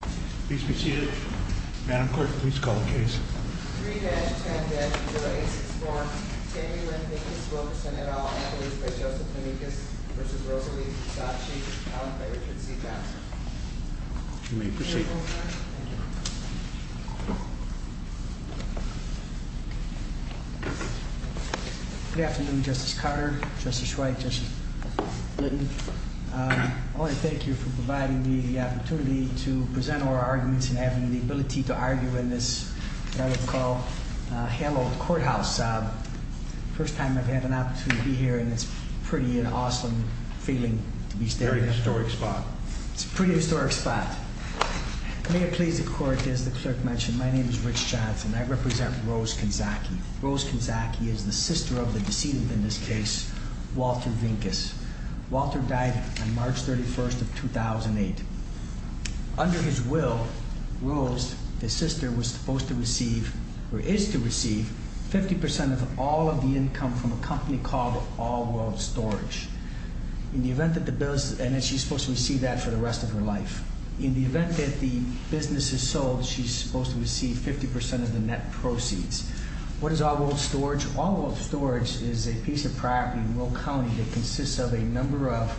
Good afternoon, Justice Carter, Justice Wright, Justice Litton, I want to thank you for providing me the opportunity to present our arguments and having the ability to argue in this, what I would call, hallowed courthouse. First time I've had an opportunity to be here, and it's a pretty awesome feeling to be standing here. Very historic spot. It's a pretty historic spot. May it please the court, as the clerk mentioned, my name is Rich Johnson. I represent Rose Conzachi. Rose Conzachi is the sister of the decedent in this case, Walter Vincus. Walter died on March 31st of 2008. Under his will, Rose, the sister, was supposed to receive, or is to receive, 50% of all of the income from a company called All World Storage. In the event that the bills, and she's supposed to receive that for the rest of her life. In the event that the business is sold, she's supposed to receive 50% of the net proceeds. What is All World Storage? All World Storage is a piece of property in Will County that consists of a number of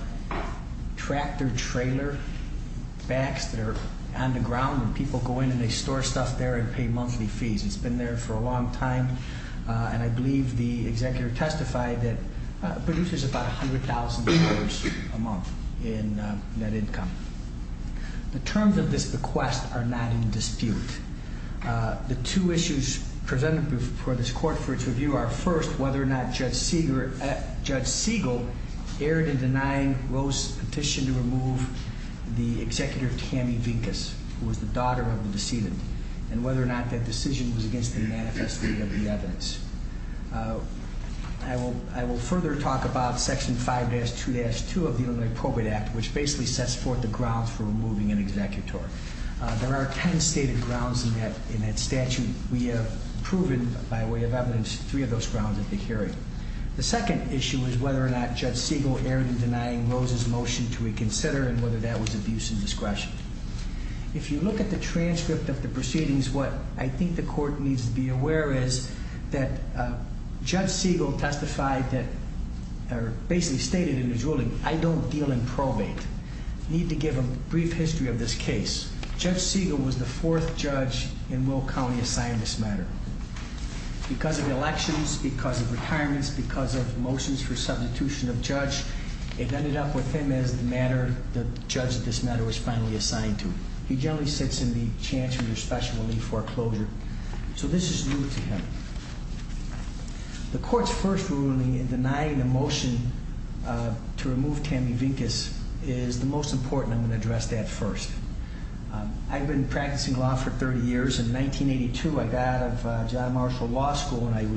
tractor trailer backs that are on the ground, and people go in and they store stuff there and pay monthly fees. It's been there for a long time, and I believe the executive testified that produces about $100,000 a month in net income. The two issues presented before this court for its review are first, whether or not Judge Siegel erred in denying Rose's petition to remove the executive Tammy Vincus, who was the daughter of the decedent, and whether or not that decision was against the manifesto of the evidence. I will further talk about section 5-2-2 of the Illinois Appropriate Act, which basically sets forth the grounds for removing an executor. There are ten stated grounds in that statute. We have proven, by way of evidence, three of those grounds at the hearing. The second issue is whether or not Judge Siegel erred in denying Rose's motion to reconsider, and whether that was abuse of discretion. If you look at the transcript of the proceedings, what I think the court needs to be aware is that Judge Siegel testified that, or basically stated in his ruling, I don't deal in probate. Need to give a brief history of this case. Judge Siegel was the fourth judge in Will County assigned this matter. Because of elections, because of retirements, because of motions for substitution of judge, it ended up with him as the judge that this matter was finally assigned to. He generally sits in the chancellor's special relief foreclosure, so this is new to him. The court's first ruling in denying a motion to remove Tammy Vincus is the most important. I'm going to address that first. I've been practicing law for 30 years. In 1982, I got out of John Marshall Law School and I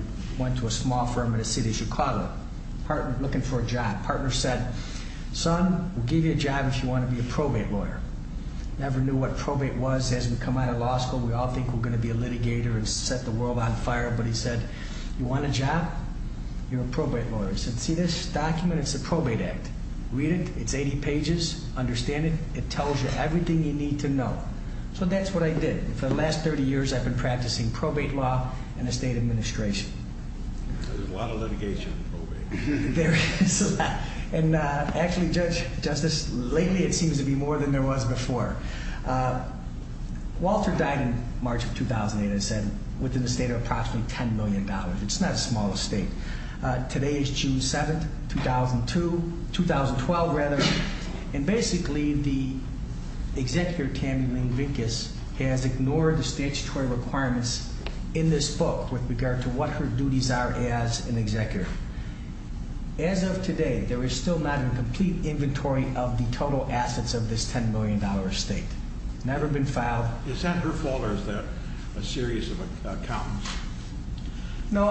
went to a small firm in the city of Chicago, looking for a job. Partner said, son, we'll give you a job if you want to be a probate lawyer. Never knew what probate was as we come out of law school. We all think we're going to be a litigator and set the world on fire. But he said, you want a job? You're a probate lawyer. I said, see this document? It's a probate act. Read it. It's 80 pages. Understand it. It tells you everything you need to know. So that's what I did. For the last 30 years, I've been practicing probate law in the state administration. There's a lot of litigation in probate. There is. And actually, Judge Justice, lately it seems to be more than there was before. Walter died in March of 2008, as I said, within the state of approximately $10 million. It's not a small state. Today is June 7th, 2002, 2012, rather. And basically, the executive Tammy Lynn Vincus has ignored the statutory requirements in this book with regard to what her duties are as an executive. As of today, there is still not a complete inventory of the total assets of this $10 million estate. Never been filed. Is that her fault or is that a series of accountants? No,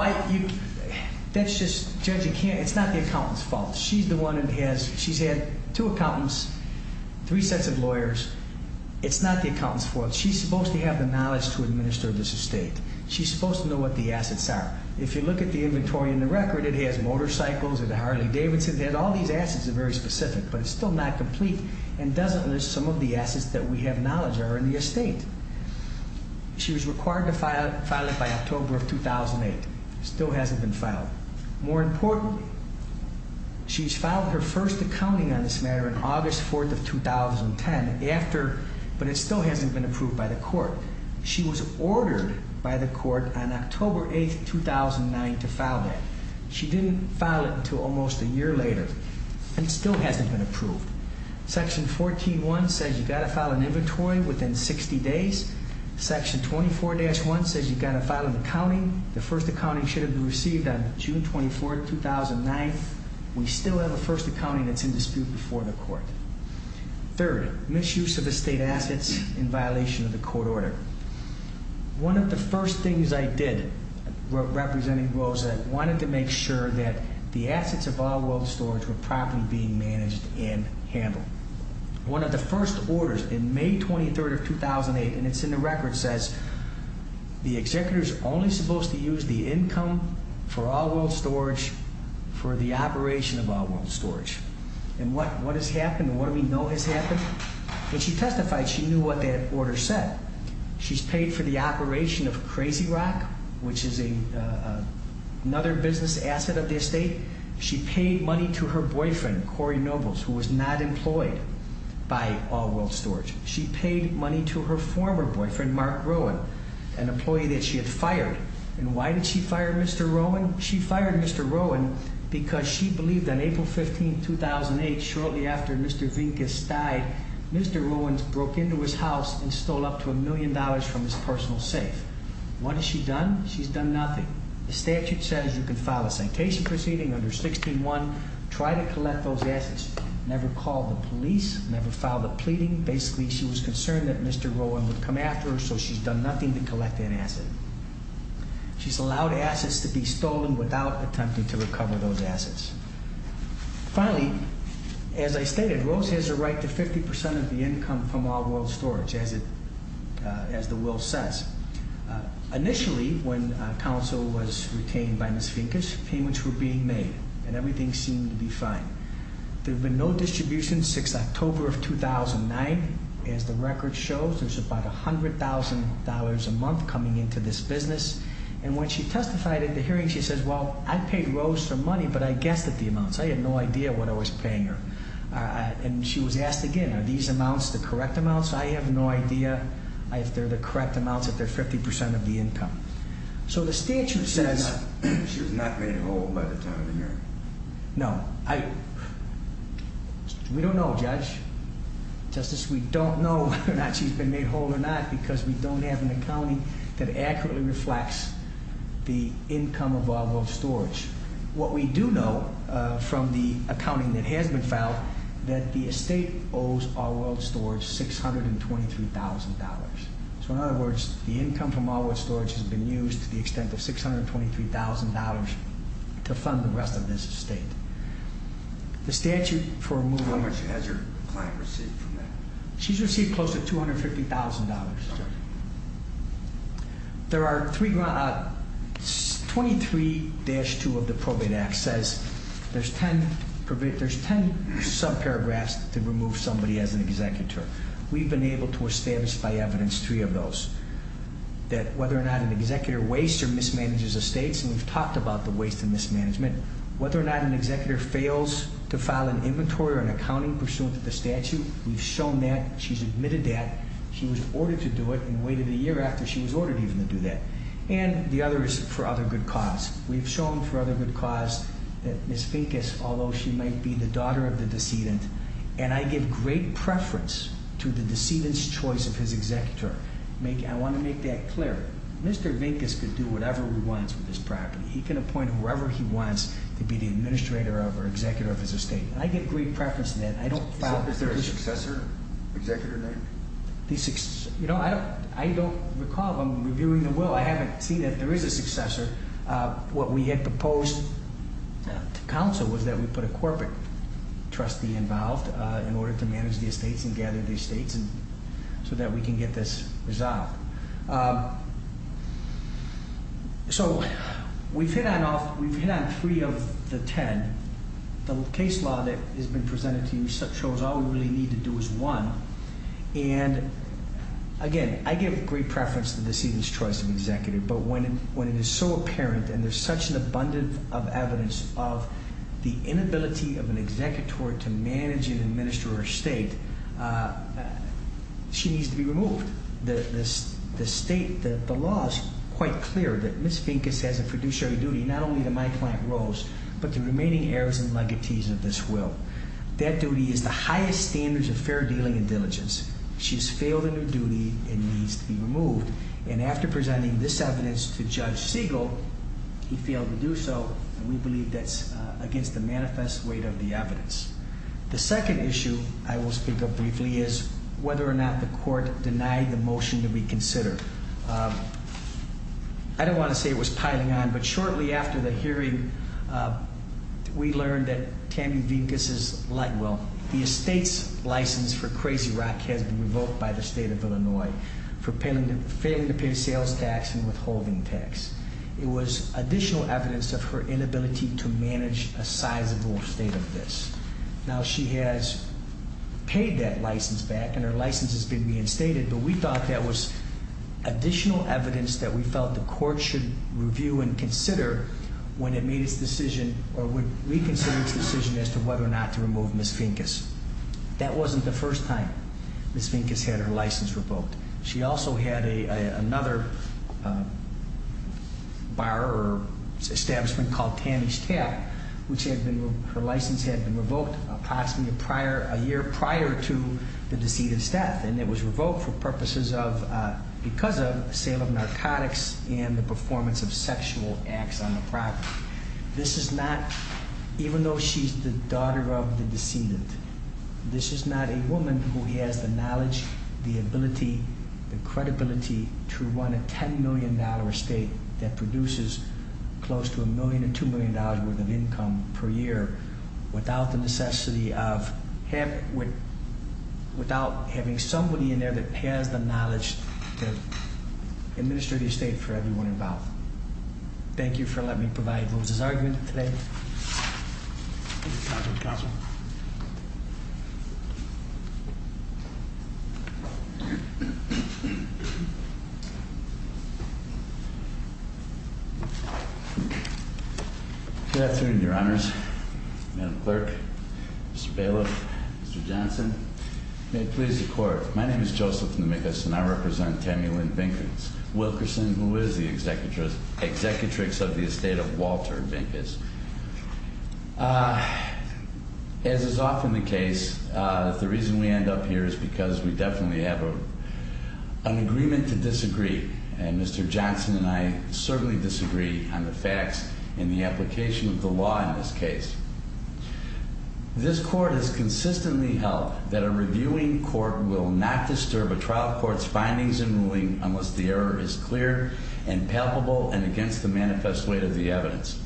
that's just, Judge, it's not the accountant's fault. She's the one that has, she's had two accountants, three sets of lawyers. It's not the accountant's fault. She's supposed to have the knowledge to administer this estate. She's supposed to know what the assets are. If you look at the inventory in the record, it has motorcycles, it has a Harley Davidson, it has all these assets that are very specific, but it's still not complete. And doesn't list some of the assets that we have knowledge are in the estate. She was required to file it by October of 2008, still hasn't been filed. More importantly, she's filed her first accounting on this matter on August 4th of 2010, but it still hasn't been approved by the court. She was ordered by the court on October 8th, 2009 to file that. She didn't file it until almost a year later, and it still hasn't been approved. Section 14-1 says you gotta file an inventory within 60 days. Section 24-1 says you gotta file an accounting. The first accounting should have been received on June 24th, 2009. We still have a first accounting that's in dispute before the court. Third, misuse of estate assets in violation of the court order. One of the first things I did representing Rosa, wanted to make sure that the assets of All World Storage were properly being managed and handled. One of the first orders in May 23rd of 2008, and it's in the record, says the executor's only supposed to use the income for All World Storage for the operation of All World Storage. And what has happened, what do we know has happened? When she testified, she knew what that order said. She's paid for the operation of Crazy Rock, which is another business asset of the estate. She paid money to her boyfriend, Corey Nobles, who was not employed by All World Storage. She paid money to her former boyfriend, Mark Rowan, an employee that she had fired. And why did she fire Mr. Rowan? She fired Mr. Rowan because she believed that April 15, 2008, shortly after Mr. Vincus died, Mr. Rowan broke into his house and stole up to a million dollars from his personal safe. What has she done? She's done nothing. The statute says you can file a sanctation proceeding under 16-1, try to collect those assets. Never called the police, never filed a pleading. Basically, she was concerned that Mr. Rowan would come after her, so she's done nothing to collect that asset. She's allowed assets to be stolen without attempting to recover those assets. Finally, as I stated, Rose has a right to 50% of the income from All World Storage, as the will says. Initially, when counsel was retained by Ms. Vincus, payments were being made, and everything seemed to be fine. There have been no distributions since October of 2009, as the record shows. There's about $100,000 a month coming into this business. And when she testified at the hearing, she says, well, I paid Rose for money, but I guessed at the amounts. I had no idea what I was paying her. And she was asked again, are these amounts the correct amounts? I have no idea if they're the correct amounts, if they're 50% of the income. So the statute says- She was not made whole by the time of the hearing. No, we don't know, Judge. Justice, we don't know whether or not she's been made whole or not, because we don't have an accounting that accurately reflects the income of All World Storage. What we do know from the accounting that has been filed, that the estate owes All World Storage $623,000. So in other words, the income from All World Storage has been used to the extent of $623,000 to fund the rest of this estate. The statute for removal- How much has your client received from that? She's received close to $250,000, sir. There are 23-2 of the Probate Act says there's ten sub-paragraphs to remove somebody as an executor. We've been able to establish by evidence three of those. That whether or not an executor wastes or mismanages estates, and we've talked about the waste and mismanagement. Whether or not an executor fails to file an inventory or an accounting pursuant to the statute, we've shown that. She's admitted that. She was ordered to do it and waited a year after she was ordered even to do that. And the other is for other good cause. We've shown for other good cause that Ms. Vincus, although she might be the daughter of the decedent, and I give great preference to the decedent's choice of his executor. I want to make that clear. Mr. Vincus could do whatever he wants with this property. He can appoint whoever he wants to be the administrator of or executor of his estate. I give great preference to that. I don't file- Is there a successor executor name? I don't recall. I'm reviewing the will. I haven't seen that there is a successor. What we had proposed to counsel was that we put a corporate trustee involved in order to manage the estates and gather the estates so that we can get this resolved. So we've hit on three of the ten. The case law that has been presented to you shows all we really need to do is one. And again, I give great preference to the decedent's choice of executive. But when it is so apparent and there's such an abundance of evidence of the inability of an executor to manage and administer her estate, she needs to be removed. The state, the law is quite clear that Ms. Vincus has a fiduciary duty not only to my client Rose, but to the remaining heirs and legatees of this will. That duty is the highest standards of fair dealing and diligence. She has failed in her duty and needs to be removed. And after presenting this evidence to Judge Siegel, he failed to do so. We believe that's against the manifest weight of the evidence. The second issue I will speak of briefly is whether or not the court denied the motion to reconsider. I don't want to say it was piling on, but shortly after the hearing, we learned that Tammy Vincus's, well, the estate's license for Crazy Rock has been revoked by the state of Illinois. For failing to pay sales tax and withholding tax. It was additional evidence of her inability to manage a sizable estate of this. Now she has paid that license back and her license has been reinstated, but we thought that was additional evidence that we felt the court should review and consider when it made its decision, or would reconsider its decision as to whether or not to remove Ms. Vincus. That wasn't the first time Ms. Vincus had her license revoked. She also had another bar or establishment called Tammy's Tap, which her license had been revoked approximately a year prior to the decedent's death. And it was revoked for purposes of, because of sale of narcotics and the performance of sexual acts on the property. This is not, even though she's the daughter of the decedent, this is not a woman who has the knowledge, the ability, the credibility to run a $10 million estate that produces close to a million to $2 million worth of income per year. Without the necessity of, without having somebody in there that has the knowledge to administer the estate for everyone involved. Thank you for letting me provide Rosa's argument today. Counselor? Good afternoon, your honors, Madam Clerk, Mr. Bailiff, Mr. Johnson. May it please the court, my name is Joseph Namikis and I represent Tammy Lynn Vincus, Wilkerson, who is the executrix of the estate of Walter Vincus. As is often the case, the reason we end up here is because we definitely have an agreement to disagree. And Mr. Johnson and I certainly disagree on the facts in the application of the law in this case. This court has consistently held that a reviewing court will not disturb a trial court's findings and ruling unless the error is clear and palpable and against the manifest weight of the evidence.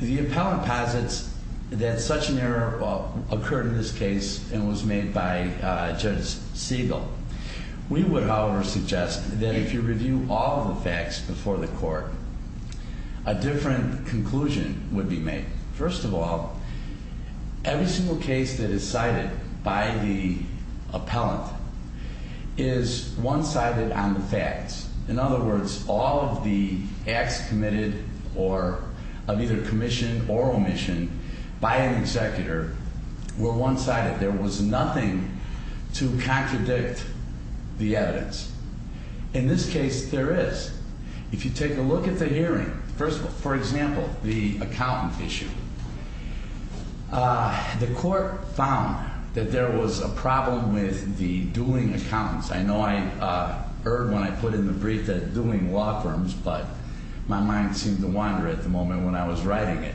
The appellant posits that such an error occurred in this case and was made by Judge Siegel. We would, however, suggest that if you review all the facts before the court, a different conclusion would be made. First of all, every single case that is cited by the appellant is one-sided on the facts. In other words, all of the acts committed of either commission or omission by an executor were one-sided. There was nothing to contradict the evidence. In this case, there is. If you take a look at the hearing, first of all, for example, the accountant issue. The court found that there was a problem with the dueling accountants. I know I erred when I put in the brief that it's dueling law firms, but my mind seemed to wander at the moment when I was writing it.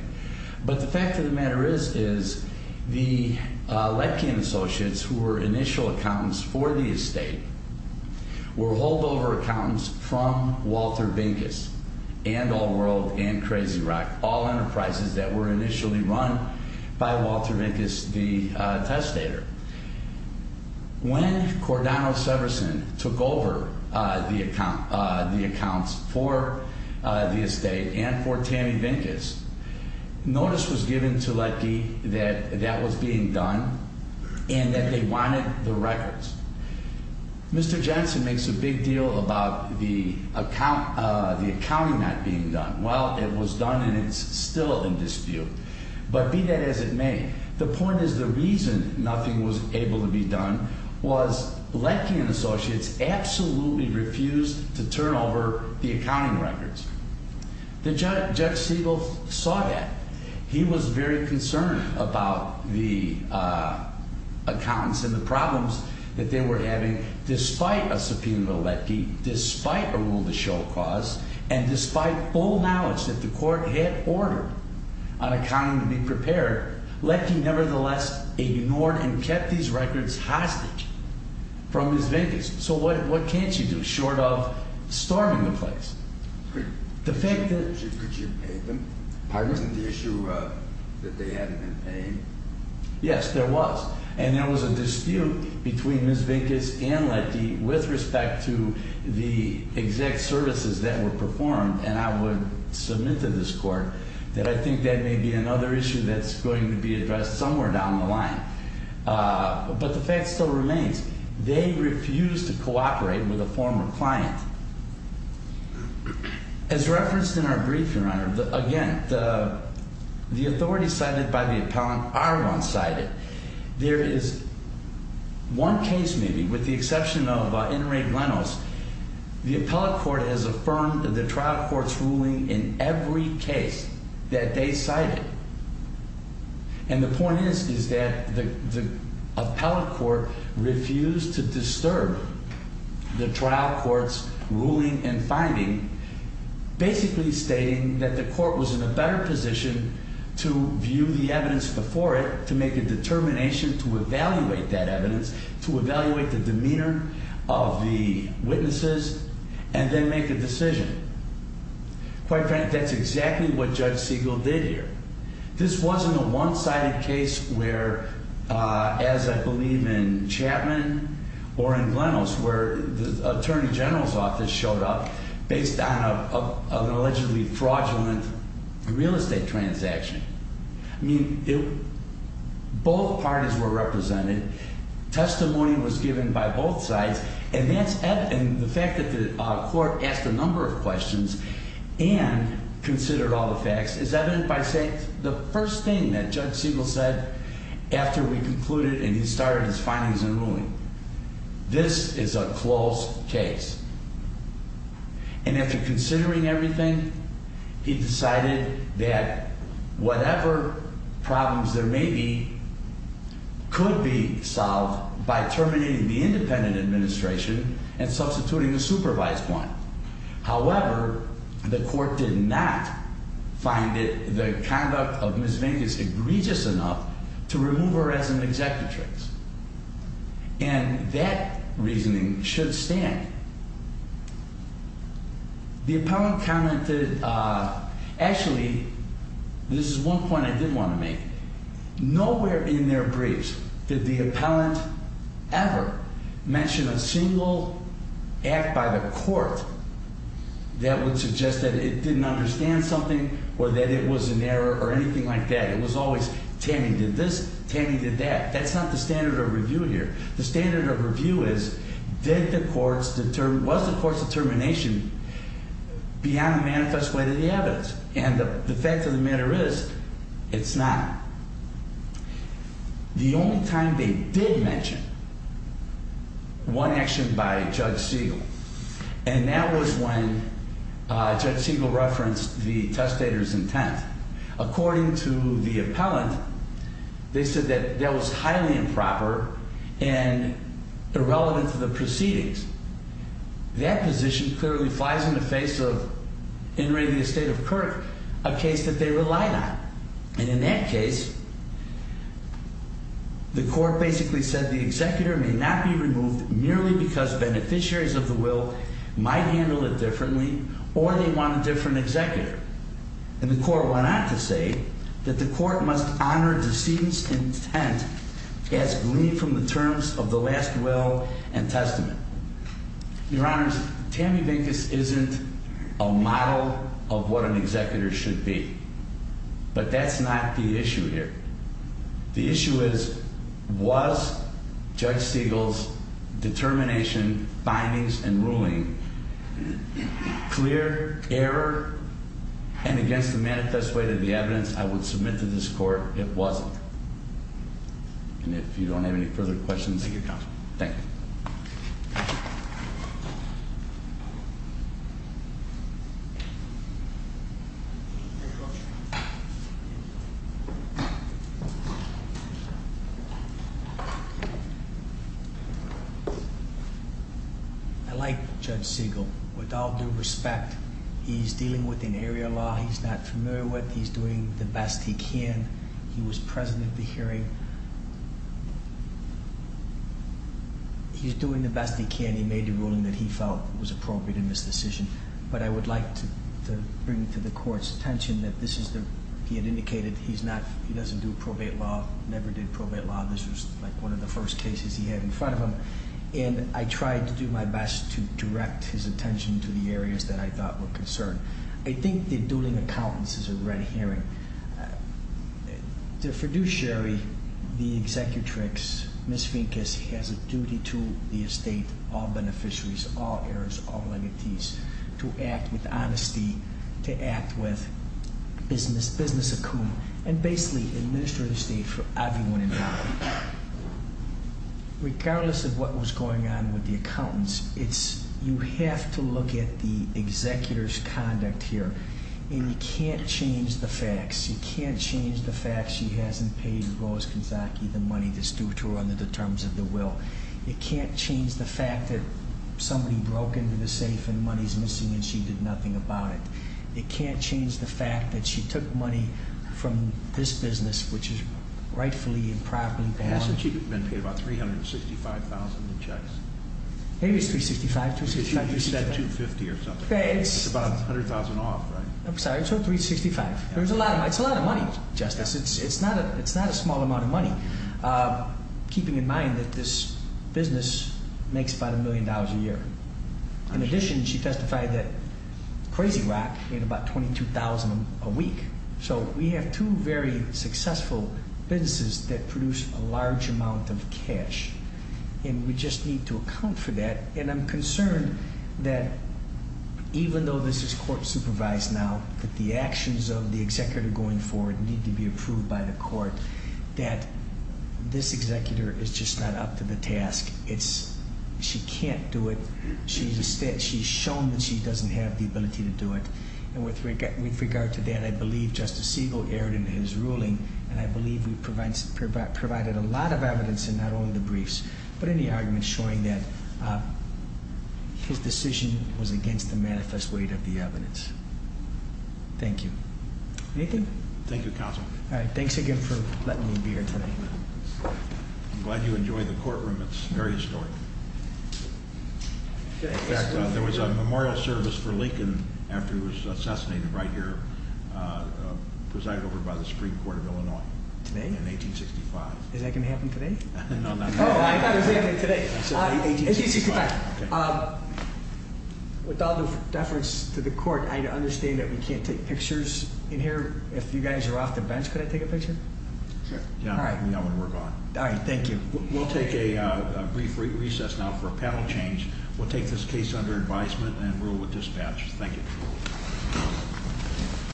But the fact of the matter is, is the Lepkian associates, who were initial accountants for the estate, were holdover accountants from Walter Vincus. And All World, and Crazy Rock, all enterprises that were initially run by Walter Vincus, the testator. When Cordano Severson took over the accounts for the estate and for Tammy Vincus, notice was given to Lepke that that was being done and that they wanted the records. Mr. Jensen makes a big deal about the accounting not being done. Well, it was done and it's still in dispute. But be that as it may, the point is the reason nothing was able to be done was Lepke and associates absolutely refused to turn over the accounting records. Judge Siegel saw that. He was very concerned about the accountants and the problems that they were having despite a subpoena to Lepke, despite a rule to show cause. And despite all knowledge that the court had ordered on accounting to be prepared, Lepke nevertheless ignored and kept these records hostage from Ms. Vincus. So what can't you do, short of storming the place? Could you have paid them? Pardon me? Wasn't the issue that they hadn't been paid? Yes, there was. And there was a dispute between Ms. Vincus and Lepke with respect to the exact services that were performed, and I would submit to this court that I think that may be another issue that's going to be addressed somewhere down the line. But the fact still remains, they refused to cooperate with a former client. As referenced in our brief, Your Honor, again, the authorities cited by the appellant are one-sided. There is one case, maybe, with the exception of Inmate Lenos. The appellate court has affirmed the trial court's ruling in every case that they cited. And the point is, is that the appellate court refused to disturb the trial court's ruling and finding, basically stating that the court was in a better position to view the evidence before it, to make a determination to evaluate that evidence, to evaluate the demeanor of the witnesses, and then make a decision. Quite frankly, that's exactly what Judge Siegel did here. This wasn't a one-sided case where, as I believe in Chapman or in Lenos, where the Attorney General's office showed up based on an allegedly fraudulent real estate transaction. I mean, both parties were represented. Testimony was given by both sides. And the fact that the court asked a number of questions and considered all the facts is evident by saying the first thing that Judge Siegel said after we concluded and he started his findings and ruling, this is a closed case. And after considering everything, he decided that whatever problems there may be could be solved by terminating the independent administration and substituting the supervised one. However, the court did not find the conduct of Ms. Vink is egregious enough to remove her as an executrix. And that reasoning should stand. The appellant commented, actually, this is one point I did want to make. Nowhere in their briefs did the appellant ever mention a single act by the court that would suggest that it didn't understand something or that it was an error or anything like that. It was always, Tammy did this, Tammy did that. That's not the standard of review here. The standard of review is, did the court's, was the court's determination beyond the manifest way to the evidence? And the fact of the matter is, it's not. The only time they did mention one action by Judge Siegel, and that was when Judge Siegel referenced the testator's intent. According to the appellant, they said that that was highly improper and irrelevant to the proceedings. That position clearly flies in the face of In re the estate of Kirk, a case that they relied on. And in that case, the court basically said the executor may not be removed merely because beneficiaries of the will might handle it differently or they want a different executor. And the court went on to say that the court must honor decedent's intent as gleaned from the terms of the last will and testament. Your honors, Tammy Vincus isn't a model of what an executor should be. But that's not the issue here. The issue is, was Judge Siegel's determination, findings and ruling clear, error and against the manifest way to the evidence I would submit to this court? It wasn't. And if you don't have any further questions, thank you. I like Judge Siegel with all due respect. He's dealing with an area law he's not familiar with. He's doing the best he can. He was present at the hearing. He's doing the best he can. He made a ruling that he felt was appropriate in this decision. But I would like to bring to the court's attention that this is the, he had indicated he's not, he doesn't do probate law, never did probate law. This was like one of the first cases he had in front of him. And I tried to do my best to direct his attention to the areas that I thought were concerned. I think the dueling accountants is a red herring. The fiduciary, the executrix, Ms. Vincus has a duty to the estate, all beneficiaries, all heirs, all legatees, to act with honesty, to act with business, business account, and basically administer the state for everyone involved. Regardless of what was going on with the accountants, it's, you have to look at the executor's conduct here, and you can't change the facts. You can't change the fact she hasn't paid Rose Kanzaki the money that's due to her under the terms of the will. You can't change the fact that somebody broke into the safe and money's missing and she did nothing about it. It can't change the fact that she took money from this business, which is rightfully and properly borne. Hasn't she been paid about $365,000 in checks? Maybe it's $365,000, $365,000. You said $250,000 or something. It's about $100,000 off, right? I'm sorry, it's $365,000. It's a lot of money, Justice. It's not a small amount of money, keeping in mind that this business makes about a million dollars a year. In addition, she testified that Crazy Rock made about $22,000 a week. So we have two very successful businesses that produce a large amount of cash, and we just need to account for that. And I'm concerned that even though this is court supervised now, that the actions of the executor going forward need to be approved by the court, that this executor is just not up to the task. It's, she can't do it. She's shown that she doesn't have the ability to do it. And with regard to that, I believe Justice Siegel erred in his ruling, and I believe we provided a lot of evidence in not only the briefs, but any arguments showing that his decision was against the manifest weight of the evidence. Thank you. Anything? Thank you, Counsel. All right, thanks again for letting me be here today. I'm glad you enjoyed the courtroom. It's very historic. In fact, there was a memorial service for Lincoln after he was assassinated right here, presided over by the Supreme Court of Illinois in 1865. Is that going to happen today? No, not today. I thought it was happening today. 1865. With all the deference to the court, I understand that we can't take pictures in here. If you guys are off the bench, could I take a picture? Sure. All right, thank you. We'll take a brief recess now for a panel change. We'll take this case under advisement and rule with dispatch. Thank you.